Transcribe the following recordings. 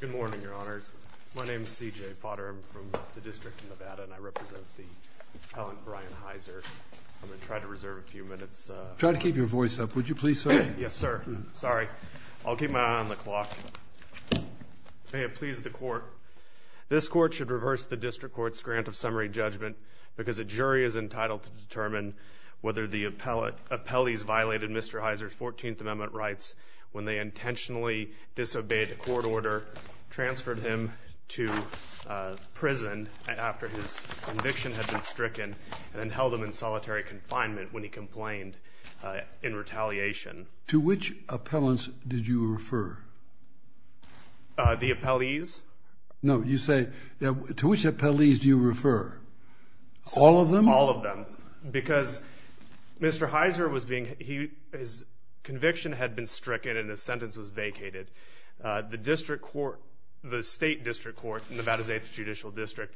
Good morning, Your Honors. My name is C.J. Potter. I'm from the District of Nevada and I represent the Appellant Brian Hiser. I'm going to try to reserve a few minutes. Try to keep your voice up. Would you please, sir? Yes, sir. Sorry. I'll keep my eye on the clock. May it please the Court, this Court should reverse the District Court's grant of summary judgment because a jury is entitled to determine whether the appellees violated Mr. Hiser's conviction when they intentionally disobeyed the court order, transferred him to prison after his conviction had been stricken, and then held him in solitary confinement when he complained in retaliation. To which appellants did you refer? The appellees? No, you say, to which appellees do you refer? All of them? All of them. Because Mr. Hiser was being, his conviction had been stricken and his sentence was vacated, the District Court, the State District Court, Nevada's 8th Judicial District,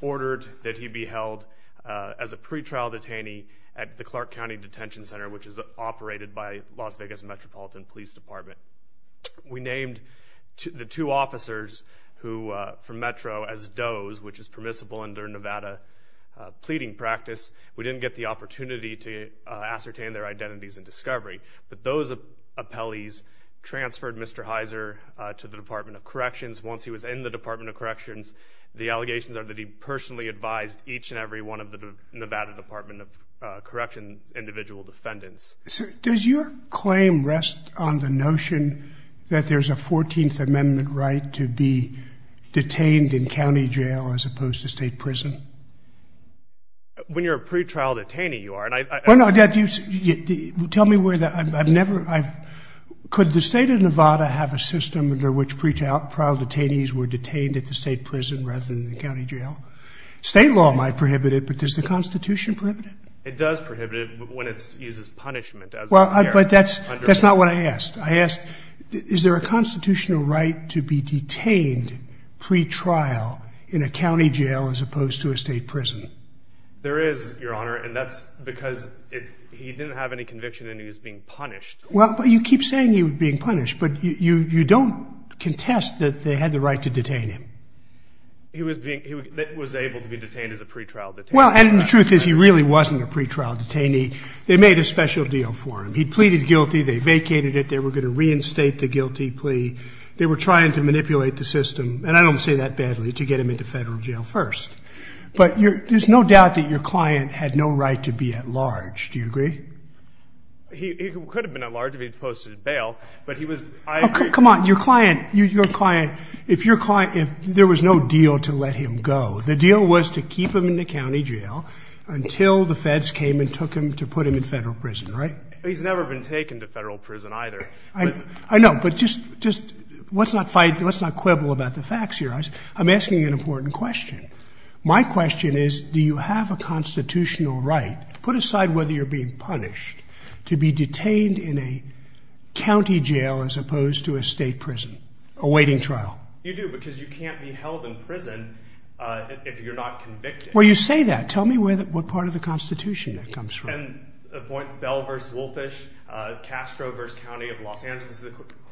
ordered that he be held as a pretrial detainee at the Clark County Detention Center, which is operated by Las Vegas Metropolitan Police Department. We named the two officers who, from Metro, as does, which is permissible under Nevada pleading practice. We didn't get the opportunity to ascertain their identities in discovery, but those appellees transferred Mr. Hiser to the Department of Corrections. Once he was in the Department of Corrections, the allegations are that he personally advised each and every one of the Nevada Department of Corrections individual defendants. Does your claim rest on the notion that there's a 14th Amendment right to be detained in county jail as opposed to state prison? When you're a pretrial detainee, you are, and I... Well, no, tell me where that, I've never, could the state of Nevada have a system under which pretrial detainees were detained at the state prison rather than the county jail? State law might prohibit it, but does the Constitution prohibit it? It does prohibit it, but when it uses punishment as a barrier. But that's not what I asked. I asked, is there a constitutional right to be detained pretrial in a county jail as opposed to a state prison? There is, Your Honor, and that's because he didn't have any conviction and he was being punished. Well, but you keep saying he was being punished, but you don't contest that they had the right to detain him. He was being, he was able to be detained as a pretrial detainee. Well, and the truth is he really wasn't a pretrial detainee. They made a special deal for him. He pleaded guilty, they vacated it, they were going to reinstate the guilty plea. They were trying to manipulate the system, and I don't say that badly, to get him into federal jail first. But there's no doubt that your client had no right to be at large, do you agree? He could have been at large if he'd posted bail, but he was, I agree. Come on, your client, if your client, if there was no deal to let him go, the deal was to keep him in the county jail until the feds came and took him to put him in federal prison, right? He's never been taken to federal prison either. I know, but just, let's not fight, let's not quibble about the facts here. Otherwise, I'm asking an important question. My question is, do you have a constitutional right, put aside whether you're being punished, to be detained in a county jail as opposed to a state prison, a waiting trial? You do, because you can't be held in prison if you're not convicted. Well you say that. Tell me what part of the Constitution that comes from. And a point, Bell v. Wolfish, Castro v. County of Los Angeles.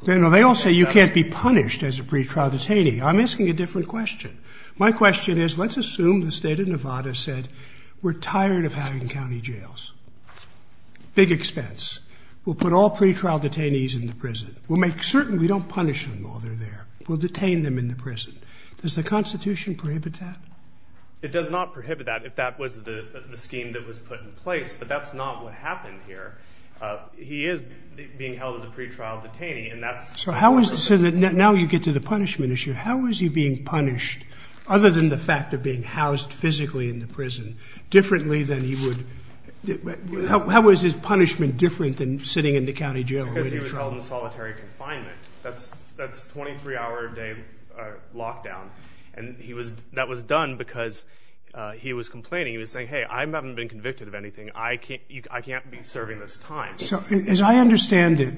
No, no, they all say you can't be punished as a pretrial detainee. I'm asking a different question. My question is, let's assume the state of Nevada said we're tired of having county jails. Big expense. We'll put all pretrial detainees in the prison. We'll make certain we don't punish them while they're there. We'll detain them in the prison. Does the Constitution prohibit that? It does not prohibit that, if that was the scheme that was put in place, but that's not what happened here. He is being held as a pretrial detainee, and that's... So how is it, now you get to the punishment issue, how is he being punished, other than the fact of being housed physically in the prison, differently than he would... How is his punishment different than sitting in the county jail? Because he was held in solitary confinement. That's 23-hour-a-day lockdown. And that was done because he was complaining, he was saying, hey, I haven't been convicted of anything, I can't be serving this time. So as I understand it,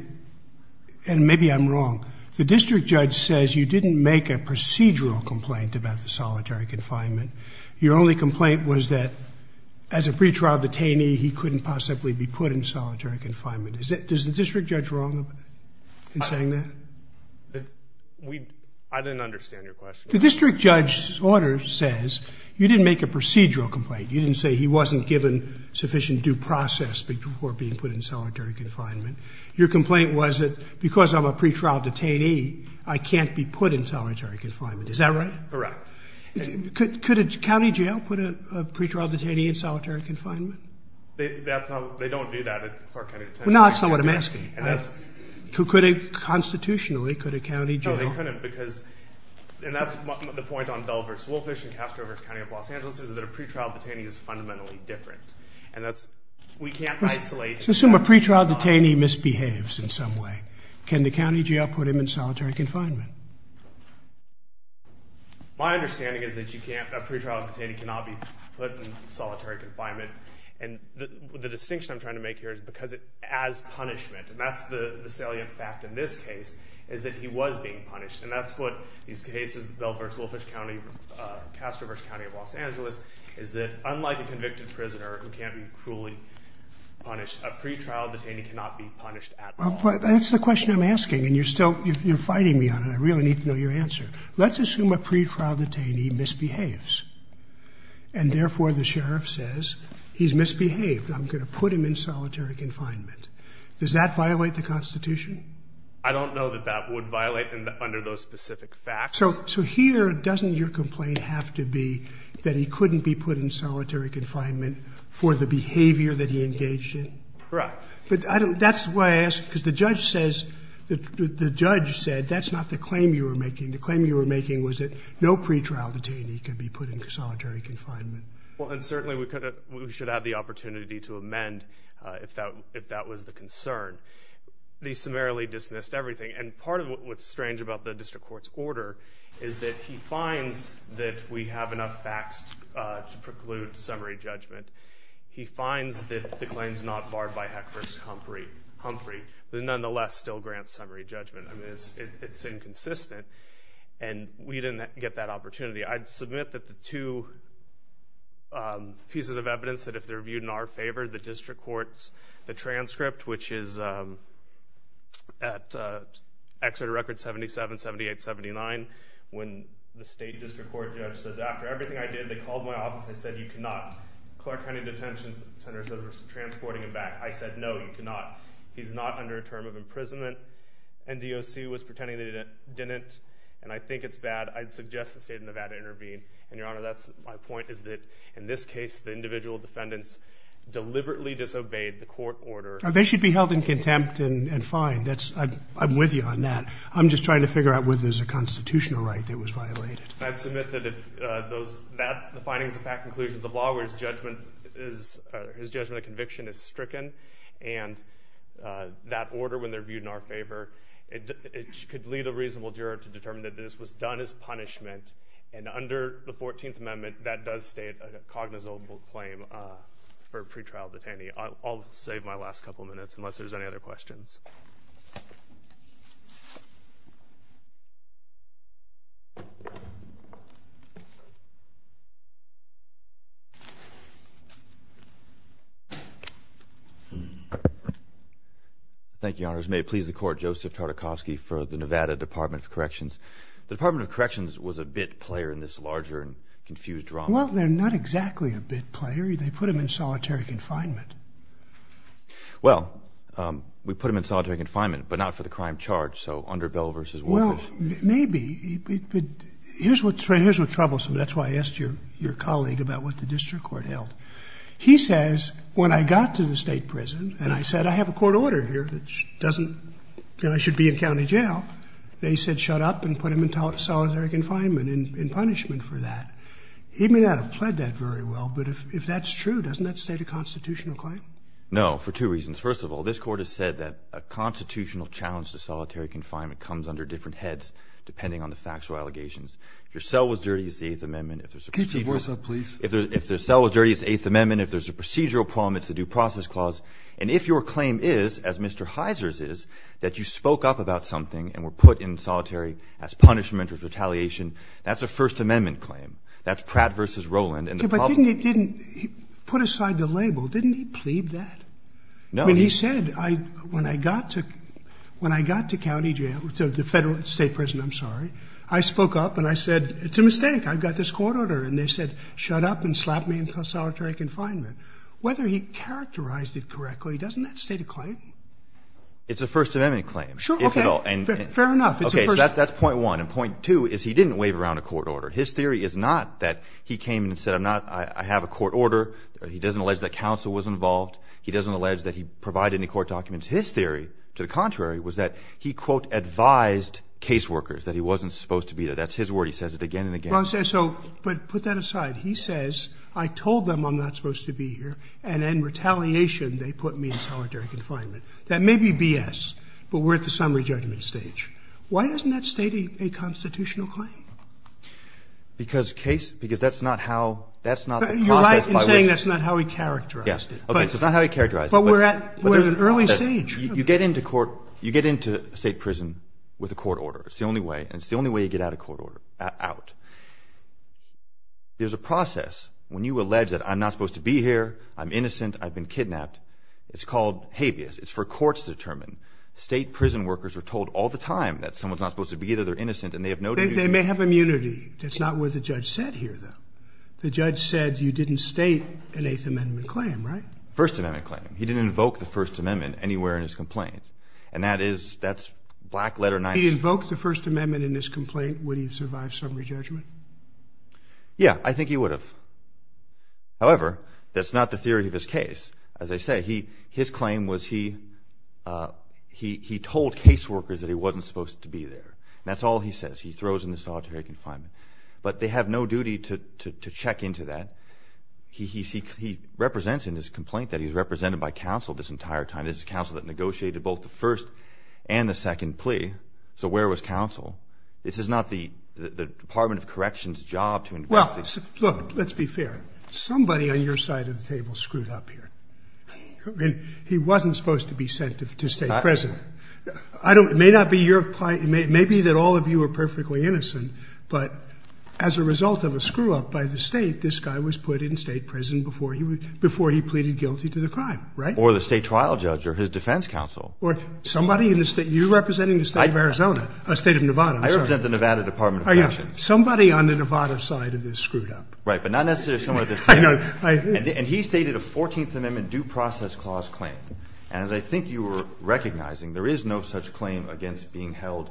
and maybe I'm wrong, the district judge says you didn't make a procedural complaint about the solitary confinement. Your only complaint was that, as a pretrial detainee, he couldn't possibly be put in solitary confinement. Is it... Is the district judge wrong in saying that? I didn't understand your question. The district judge's order says you didn't make a procedural complaint, you didn't say he wasn't given sufficient due process before being put in solitary confinement. Your complaint was that, because I'm a pretrial detainee, I can't be put in solitary confinement. Is that right? Correct. Could a county jail put a pretrial detainee in solitary confinement? That's not... They don't do that at Clark County Detention Center. Well, now that's not what I'm asking. Could a... Constitutionally, could a county jail... No, they couldn't, because... And that's the point on Delvers-Wolfish and Castroburg County of Los Angeles, is that a pretrial detainee is fundamentally different, and that's... We can't isolate... Let's assume a pretrial detainee misbehaves in some way. Can the county jail put him in solitary confinement? My understanding is that you can't... A pretrial detainee cannot be put in solitary confinement, and the distinction I'm trying to make here is because, as punishment, and that's the salient fact in this case, is that he was being punished, and that's what these cases, Delvers-Wolfish County, Castroburg County of Los Angeles, is that, unlike a convicted prisoner who can't be cruelly punished, a pretrial detainee cannot be punished at all. That's the question I'm asking, and you're still... You're fighting me on it. I really need to know your answer. Let's assume a pretrial detainee misbehaves, and therefore, the sheriff says, he's misbehaved. I'm going to put him in solitary confinement. Does that violate the Constitution? I don't know that that would violate under those specific facts. So, here, doesn't your complaint have to be that he couldn't be put in solitary confinement for the behavior that he engaged in? Correct. But that's why I ask, because the judge says, the judge said, that's not the claim you were making. The claim you were making was that no pretrial detainee could be put in solitary confinement. Well, and certainly, we should have the opportunity to amend if that was the concern. They summarily dismissed everything, and part of what's strange about the district court's order is that he finds that we have enough facts to preclude summary judgment. He finds that the claim's not barred by Heck v. Humphrey, but nonetheless, still grants summary judgment. I mean, it's inconsistent, and we didn't get that opportunity. I'd submit that the two pieces of evidence, that if they're viewed in our favor, the district court's, the transcript, which is at Exeter Record 77-78-79, when the state district court judge says, after everything I did, they called my office, they said, you cannot, Clark County Detention Center said, we're transporting him back. I said, no, you cannot. He's not under a term of imprisonment, and DOC was pretending they didn't, and I think it's bad. I'd suggest the state of Nevada intervene, and, Your Honor, that's my point, is that, in this case, the individual defendants deliberately disobeyed the court order. They should be held in contempt and fined. I'm with you on that. I'm just trying to figure out whether there's a constitutional right that was violated. I'd submit that the findings of fact and conclusions of law, where his judgment of conviction is stricken and that order, when they're viewed in our favor, it could lead a reasonable juror to determine that this was done as punishment, and under the 14th Amendment, that does state a cognizable claim for a pretrial detainee. I'll save my last couple minutes, unless there's any other questions. Thank you, Your Honors. May it please the Court, Joseph Tartakovsky for the Nevada Department of Corrections. The Department of Corrections was a bit player in this larger and confused drama. Well, they're not exactly a bit player. They put him in solitary confinement. Well, we put him in solitary confinement, but not for the crime charge, so under Bell v. Wolters. Well, maybe, but here's what's troublesome. That's why I asked your colleague about what the district court held. He says, when I got to the state prison, and I said, I have a court order here that doesn't... you know, I should be in county jail. They said, shut up and put him in solitary confinement and in punishment for that. He may not have pled that very well, but if that's true, doesn't that state a constitutional claim? No, for two reasons. First of all, this Court has said that a constitutional challenge to solitary confinement comes under different heads, depending on the facts or allegations. If your cell was dirty, it's the Eighth Amendment. If there's a procedural... Keep your voice up, please. If their cell was dirty, it's the Eighth Amendment. If there's a procedural problem, it's the Due Process Clause. And if your claim is, as Mr. Heiser's is, that you spoke up about something and were put in solitary as punishment or retaliation, that's a First Amendment claim. That's Pratt v. Roland. And the problem... But didn't he... he put aside the label. Didn't he plead that? No. I mean, he said, when I got to county jail... the federal... state prison, I'm sorry. I spoke up and I said, it's a mistake. I've got this court order. And they said, shut up and slap me in solitary confinement. Whether he characterized it correctly, doesn't that state a claim? It's a First Amendment claim. Sure. Fair enough. It's a First... Okay. So that's point one. And point two is, he didn't wave around a court order. His theory is not that he came and said, I'm not... I have a court order. He doesn't allege that counsel was involved. He doesn't allege that he provided any court documents. His theory, to the contrary, was that he, quote, advised caseworkers that he wasn't supposed to be there. That's his word. He says it again and again. But put that aside. He says, I told them I'm not supposed to be here. And in retaliation, they put me in solitary confinement. That may be B.S., but we're at the summary judgment stage. Why doesn't that state a constitutional claim? Because case... because that's not how... that's not the process by which... You're right in saying that's not how he characterized it. Yeah. Okay. So it's not how he characterized it. But we're at... we're at an early stage. You get into court... you get into state prison with a court order. It's the only way. And it's the only way you get out of court order... out. There's a process when you allege that I'm not supposed to be here, I'm innocent, I've been kidnapped. It's called habeas. It's for courts to determine. State prison workers are told all the time that someone's not supposed to be there, they're innocent, and they have no... They may have immunity. That's not what the judge said here, though. The judge said you didn't state an Eighth Amendment claim, right? First Amendment claim. He didn't invoke the First Amendment anywhere in his complaint. And that is... that's black letter... If he invoked the First Amendment in his complaint, would he have survived summary judgment? Yeah. I think he would have. However, that's not the theory of his case. As I say, his claim was he told case workers that he wasn't supposed to be there. That's all he says. He throws in the solitary confinement. But they have no duty to check into that. He represents in his complaint that he's represented by counsel this entire time. This is counsel that negotiated both the first and the second plea. So where was counsel? This is not the Department of Correction's job to investigate. Well, look, let's be fair. Somebody on your side of the table screwed up here. He wasn't supposed to be sent to state prison. I don't... it may not be your... it may be that all of you are perfectly innocent, but as a result of a screw-up by the state, this guy was put in state prison before he pleaded guilty to the crime, right? Or the state trial judge or his defense counsel. Or somebody in the state... you're representing the state of Arizona... I... State of Nevada. I'm sorry. I represent the Nevada Department of Corrections. Oh, yeah. Somebody on the Nevada side of this screwed up. Right. But not necessarily someone at this table. I know. I... And he stated a 14th Amendment due process clause claim. And as I think you were recognizing, there is no such claim against being held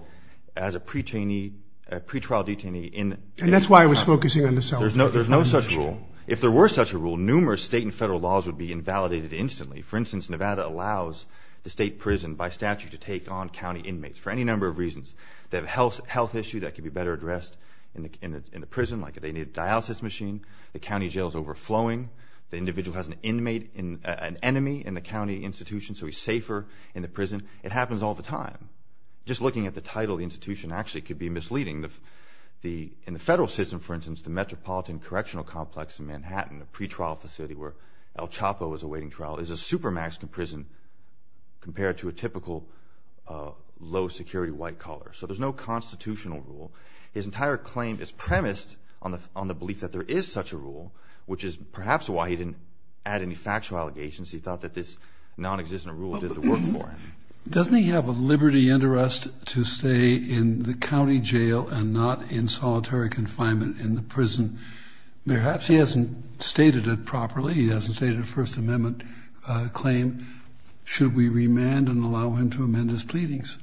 as a pre-trainee... a pretrial detainee in... And that's why I was focusing on the... There's no... there's no such rule. If there were such a rule, numerous state and federal laws would be invalidated instantly. For instance, Nevada allows the state prison by statute to take on county inmates for any number of reasons. They have a health issue that could be better addressed in the prison, like they need a vaccine. The county jail is overflowing. The individual has an inmate... an enemy in the county institution, so he's safer in the prison. It happens all the time. Just looking at the title of the institution actually could be misleading. In the federal system, for instance, the Metropolitan Correctional Complex in Manhattan, a pretrial facility where El Chapo is awaiting trial, is a supermaxed prison compared to a typical low security white collar. So there's no constitutional rule. His entire claim is premised on the belief that there is such a rule, which is perhaps why he didn't add any factual allegations. He thought that this non-existent rule did the work for him. Doesn't he have a liberty and arrest to stay in the county jail and not in solitary confinement in the prison? Perhaps he hasn't stated it properly. He hasn't stated a First Amendment claim. Should we remand and allow him to amend his pleadings?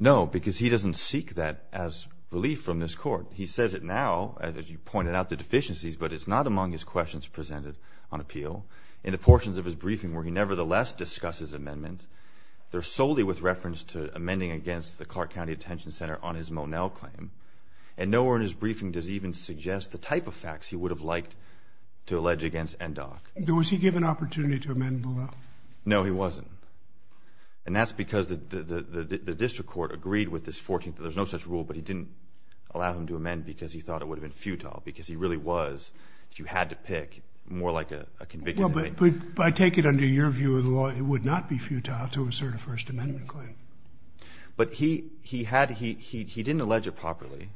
No, because he doesn't seek that as belief from this court. He says it now, as you pointed out, the deficiencies, but it's not among his questions presented on appeal. In the portions of his briefing where he nevertheless discusses amendments, they're solely with reference to amending against the Clark County Detention Center on his Monell claim. And nowhere in his briefing does he even suggest the type of facts he would have liked to allege against NDOC. Was he given an opportunity to amend Monell? No, he wasn't. And that's because the district court agreed with this 14th that there's no such rule, but he didn't allow him to amend because he thought it would have been futile, because he really was, if you had to pick, more like a convicted inmate. Well, but I take it under your view of the law, it would not be futile to assert a First Amendment claim. But he didn't allege it properly.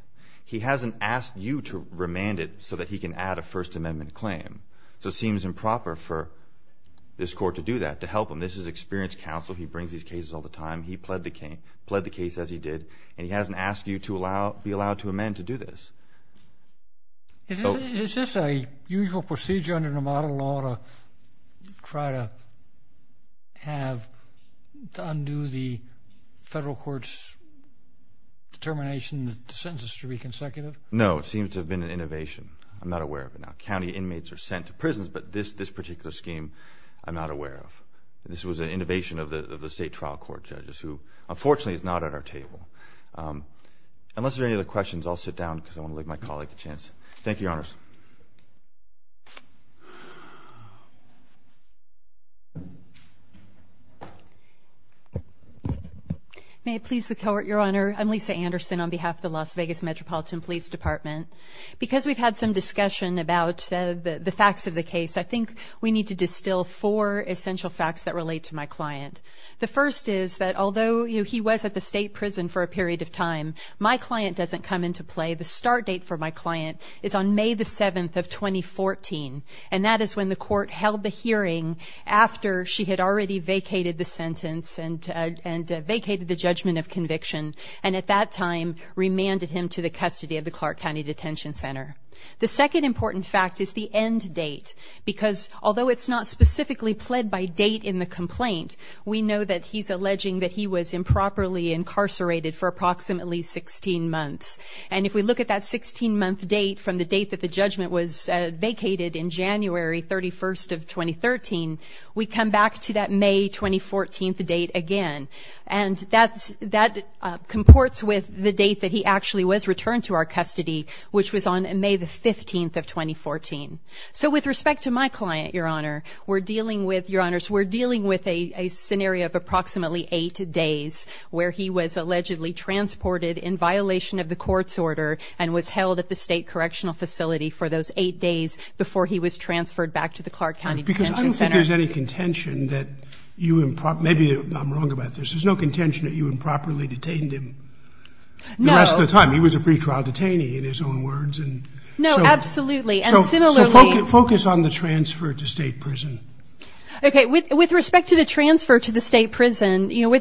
He hasn't asked you to remand it so that he can add a First Amendment claim. So it seems improper for this court to do that, to help him. And this is experienced counsel. He brings these cases all the time. He pled the case as he did, and he hasn't asked you to be allowed to amend to do this. Is this a usual procedure under Nevada law to try to have, to undo the federal court's determination that the sentences should be consecutive? No. It seems to have been an innovation. I'm not aware of it now. County inmates are sent to prisons, but this particular scheme, I'm not aware of. This was an innovation of the state trial court judges, who, unfortunately, is not at our table. Unless there are any other questions, I'll sit down, because I want to leave my colleague a chance. Thank you, Your Honors. May it please the court, Your Honor, I'm Lisa Anderson on behalf of the Las Vegas Metropolitan Police Department. Because we've had some discussion about the facts of the case, I think we need to distill four essential facts that relate to my client. The first is that although he was at the state prison for a period of time, my client doesn't come into play. The start date for my client is on May the 7th of 2014, and that is when the court held the hearing after she had already vacated the sentence and vacated the judgment of conviction, and at that time, remanded him to the custody of the Clark County Detention Center. The second important fact is the end date, because although it's not specifically pled by date in the complaint, we know that he's alleging that he was improperly incarcerated for approximately 16 months. And if we look at that 16-month date from the date that the judgment was vacated in January 31st of 2013, we come back to that May 2014th date again. And that comports with the date that he actually was returned to our custody, which was on May the 15th of 2014. So with respect to my client, Your Honor, we're dealing with, Your Honors, we're dealing with a scenario of approximately eight days where he was allegedly transported in violation of the court's order and was held at the state correctional facility for those eight days before he was transferred back to the Clark County Detention Center. Because I don't think there's any contention that you improperly, maybe I'm wrong about this, there's no contention that you improperly detained him the rest of the time. He was a pre-trial detainee in his own words. No, absolutely. And similarly... So focus on the transfer to state prison. Okay, with respect to the transfer to the state prison, you know,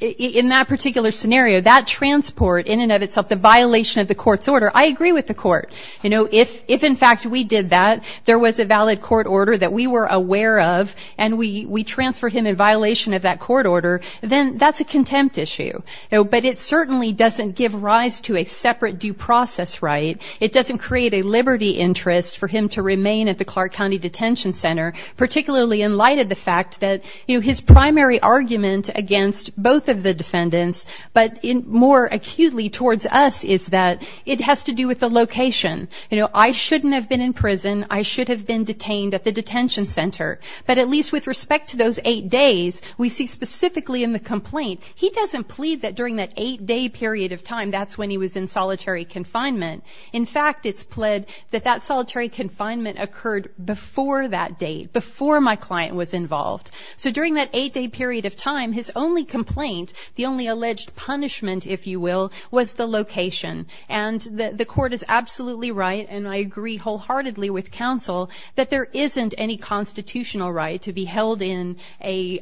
in that particular scenario, that transport in and of itself, the violation of the court's order, I agree with the court. You know, if in fact we did that, there was a valid court order that we were aware of and we transferred him in violation of that court order, then that's a contempt issue. But it certainly doesn't give rise to a separate due process right. It doesn't create a liberty interest for him to remain at the Clark County Detention Center, particularly in light of the fact that his primary argument against both of the defendants, but more acutely towards us, is that it has to do with the location. You know, I shouldn't have been in prison. I should have been detained at the detention center. But at least with respect to those eight days, we see specifically in the complaint, he doesn't plead that during that eight-day period of time, that's when he was in solitary confinement. In fact, it's pled that that solitary confinement occurred before that date, before my client was involved. So during that eight-day period of time, his only complaint, the only alleged punishment, if you will, was the location. And the court is absolutely right, and I agree wholeheartedly with counsel, that there isn't any constitutional right to be held in a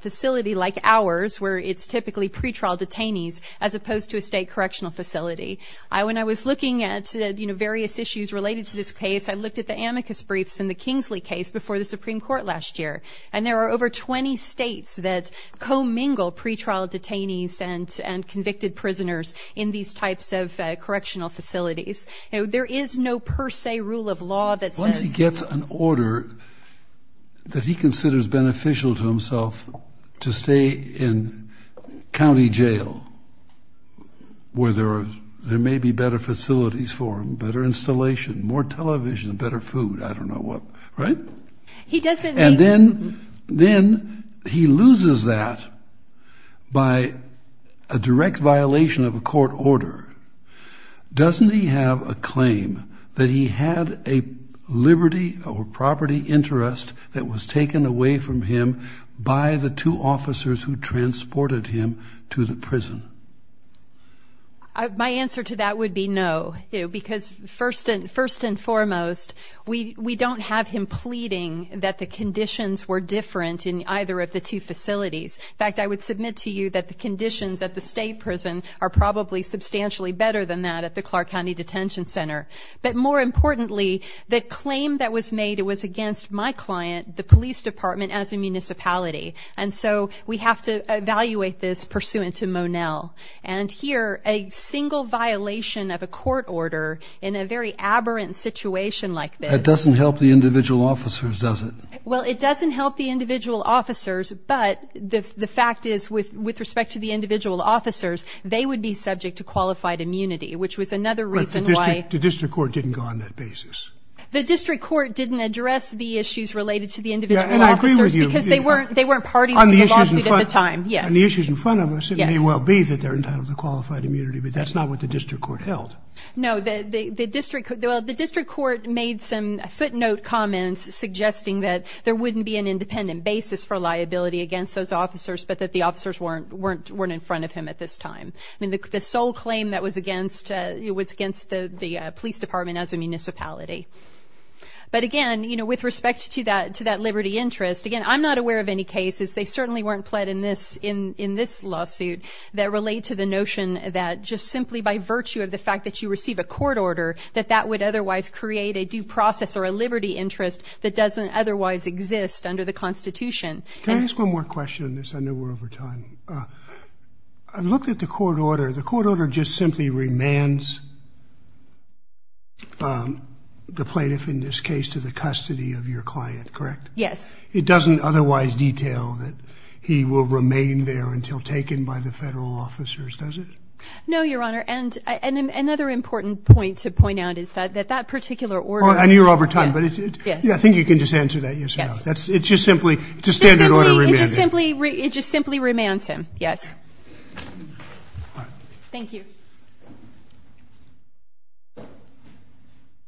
facility like ours, where it's typically pre-trial detainees, as opposed to a state correctional facility. When I was looking at various issues related to this case, I looked at the amicus briefs in the Kingsley case before the Supreme Court last year. And there are over 20 states that co-mingle pre-trial detainees and convicted prisoners in these types of correctional facilities. There is no per se rule of law that says- Once he gets an order that he considers beneficial to himself to stay in county jail, where there may be better facilities for him, better installation, more television, better food, I don't know what, right? He doesn't need- that he had a liberty or property interest that was taken away from him by the two officers who transported him to the prison. My answer to that would be no. Because first and foremost, we don't have him pleading that the conditions were different in either of the two facilities. In fact, I would submit to you that the conditions at the state prison are probably substantially better than that at the Clark County Detention Center. But more importantly, the claim that was made was against my client, the police department, as a municipality. And so we have to evaluate this pursuant to Monell. And here, a single violation of a court order in a very aberrant situation like this- It doesn't help the individual officers, does it? Well, it doesn't help the individual officers, but the fact is, with respect to the individual officers, they would be subject to qualified immunity, which was another reason why- The district court didn't go on that basis. The district court didn't address the issues related to the individual officers because they weren't parties to the lawsuit at the time. Yes. On the issues in front of us, it may well be that they're entitled to qualified immunity, but that's not what the district court held. No, the district court made some footnote comments suggesting that there wouldn't be an independent basis for liability against those officers, but that the officers weren't in front of him at this time. I mean, the sole claim that was against, it was against the police department as a municipality. But again, with respect to that liberty interest, again, I'm not aware of any cases, they certainly weren't pled in this lawsuit, that relate to the notion that just simply by virtue of the fact that you receive a court order, that that would otherwise create a due process or a liberty interest that doesn't otherwise exist under the Constitution. Can I ask one more question? I know we're over time. I looked at the court order. The court order just simply remands the plaintiff in this case to the custody of your client, correct? Yes. It doesn't otherwise detail that he will remain there until taken by the federal officers, does it? No, Your Honor. And another important point to point out is that that particular order... And you're over time, but I think you can just answer that yes or no. Yes. It's just simply... It's a standard order remand. It just simply remands him, yes. Thank you.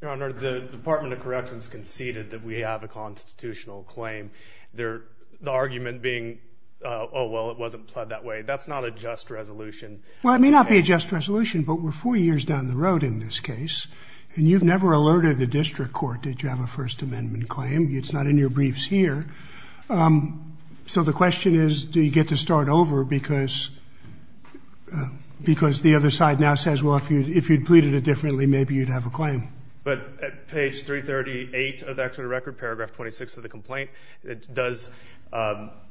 Your Honor, the Department of Corrections conceded that we have a constitutional claim. The argument being, oh, well, it wasn't pled that way. That's not a just resolution. Well, it may not be a just resolution, but we're four years down the road in this case, and you've never alerted a district court that you have a First Amendment claim. It's not in your briefs here. So the question is, do you get to start over? Because the other side now says, well, if you'd pleaded it differently, maybe you'd have a claim. But at page 338 of the actual record, paragraph 26 of the complaint, it does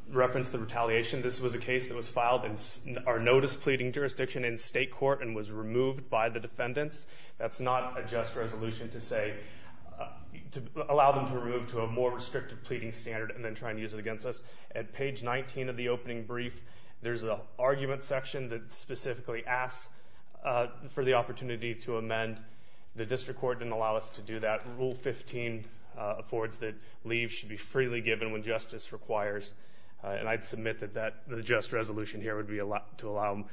reference the retaliation. This was a case that was filed in our notice pleading jurisdiction in state court and was removed by the defendants. That's not a just resolution to say, to allow them to move to a more restrictive pleading standard and then try and use it against us. At page 19 of the opening brief, there's an argument section that specifically asks for the opportunity to amend. The district court didn't allow us to do that. Rule 15 affords that leave should be freely given when justice requires. And I'd submit that the just resolution here would be to allow them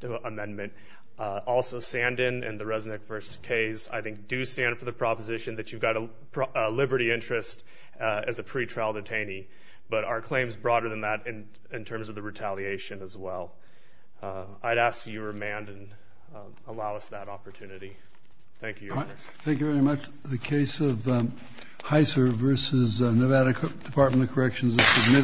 to amend it. Also, Sandin and the Resnick v. Cays, I think, do stand for the proposition that you've got a liberty interest as a pretrial detainee. But are claims broader than that in terms of the retaliation as well? I'd ask that you remand and allow us that opportunity. Thank you. Thank you very much. The case of Heisser v. Nevada Department of Corrections is submitted.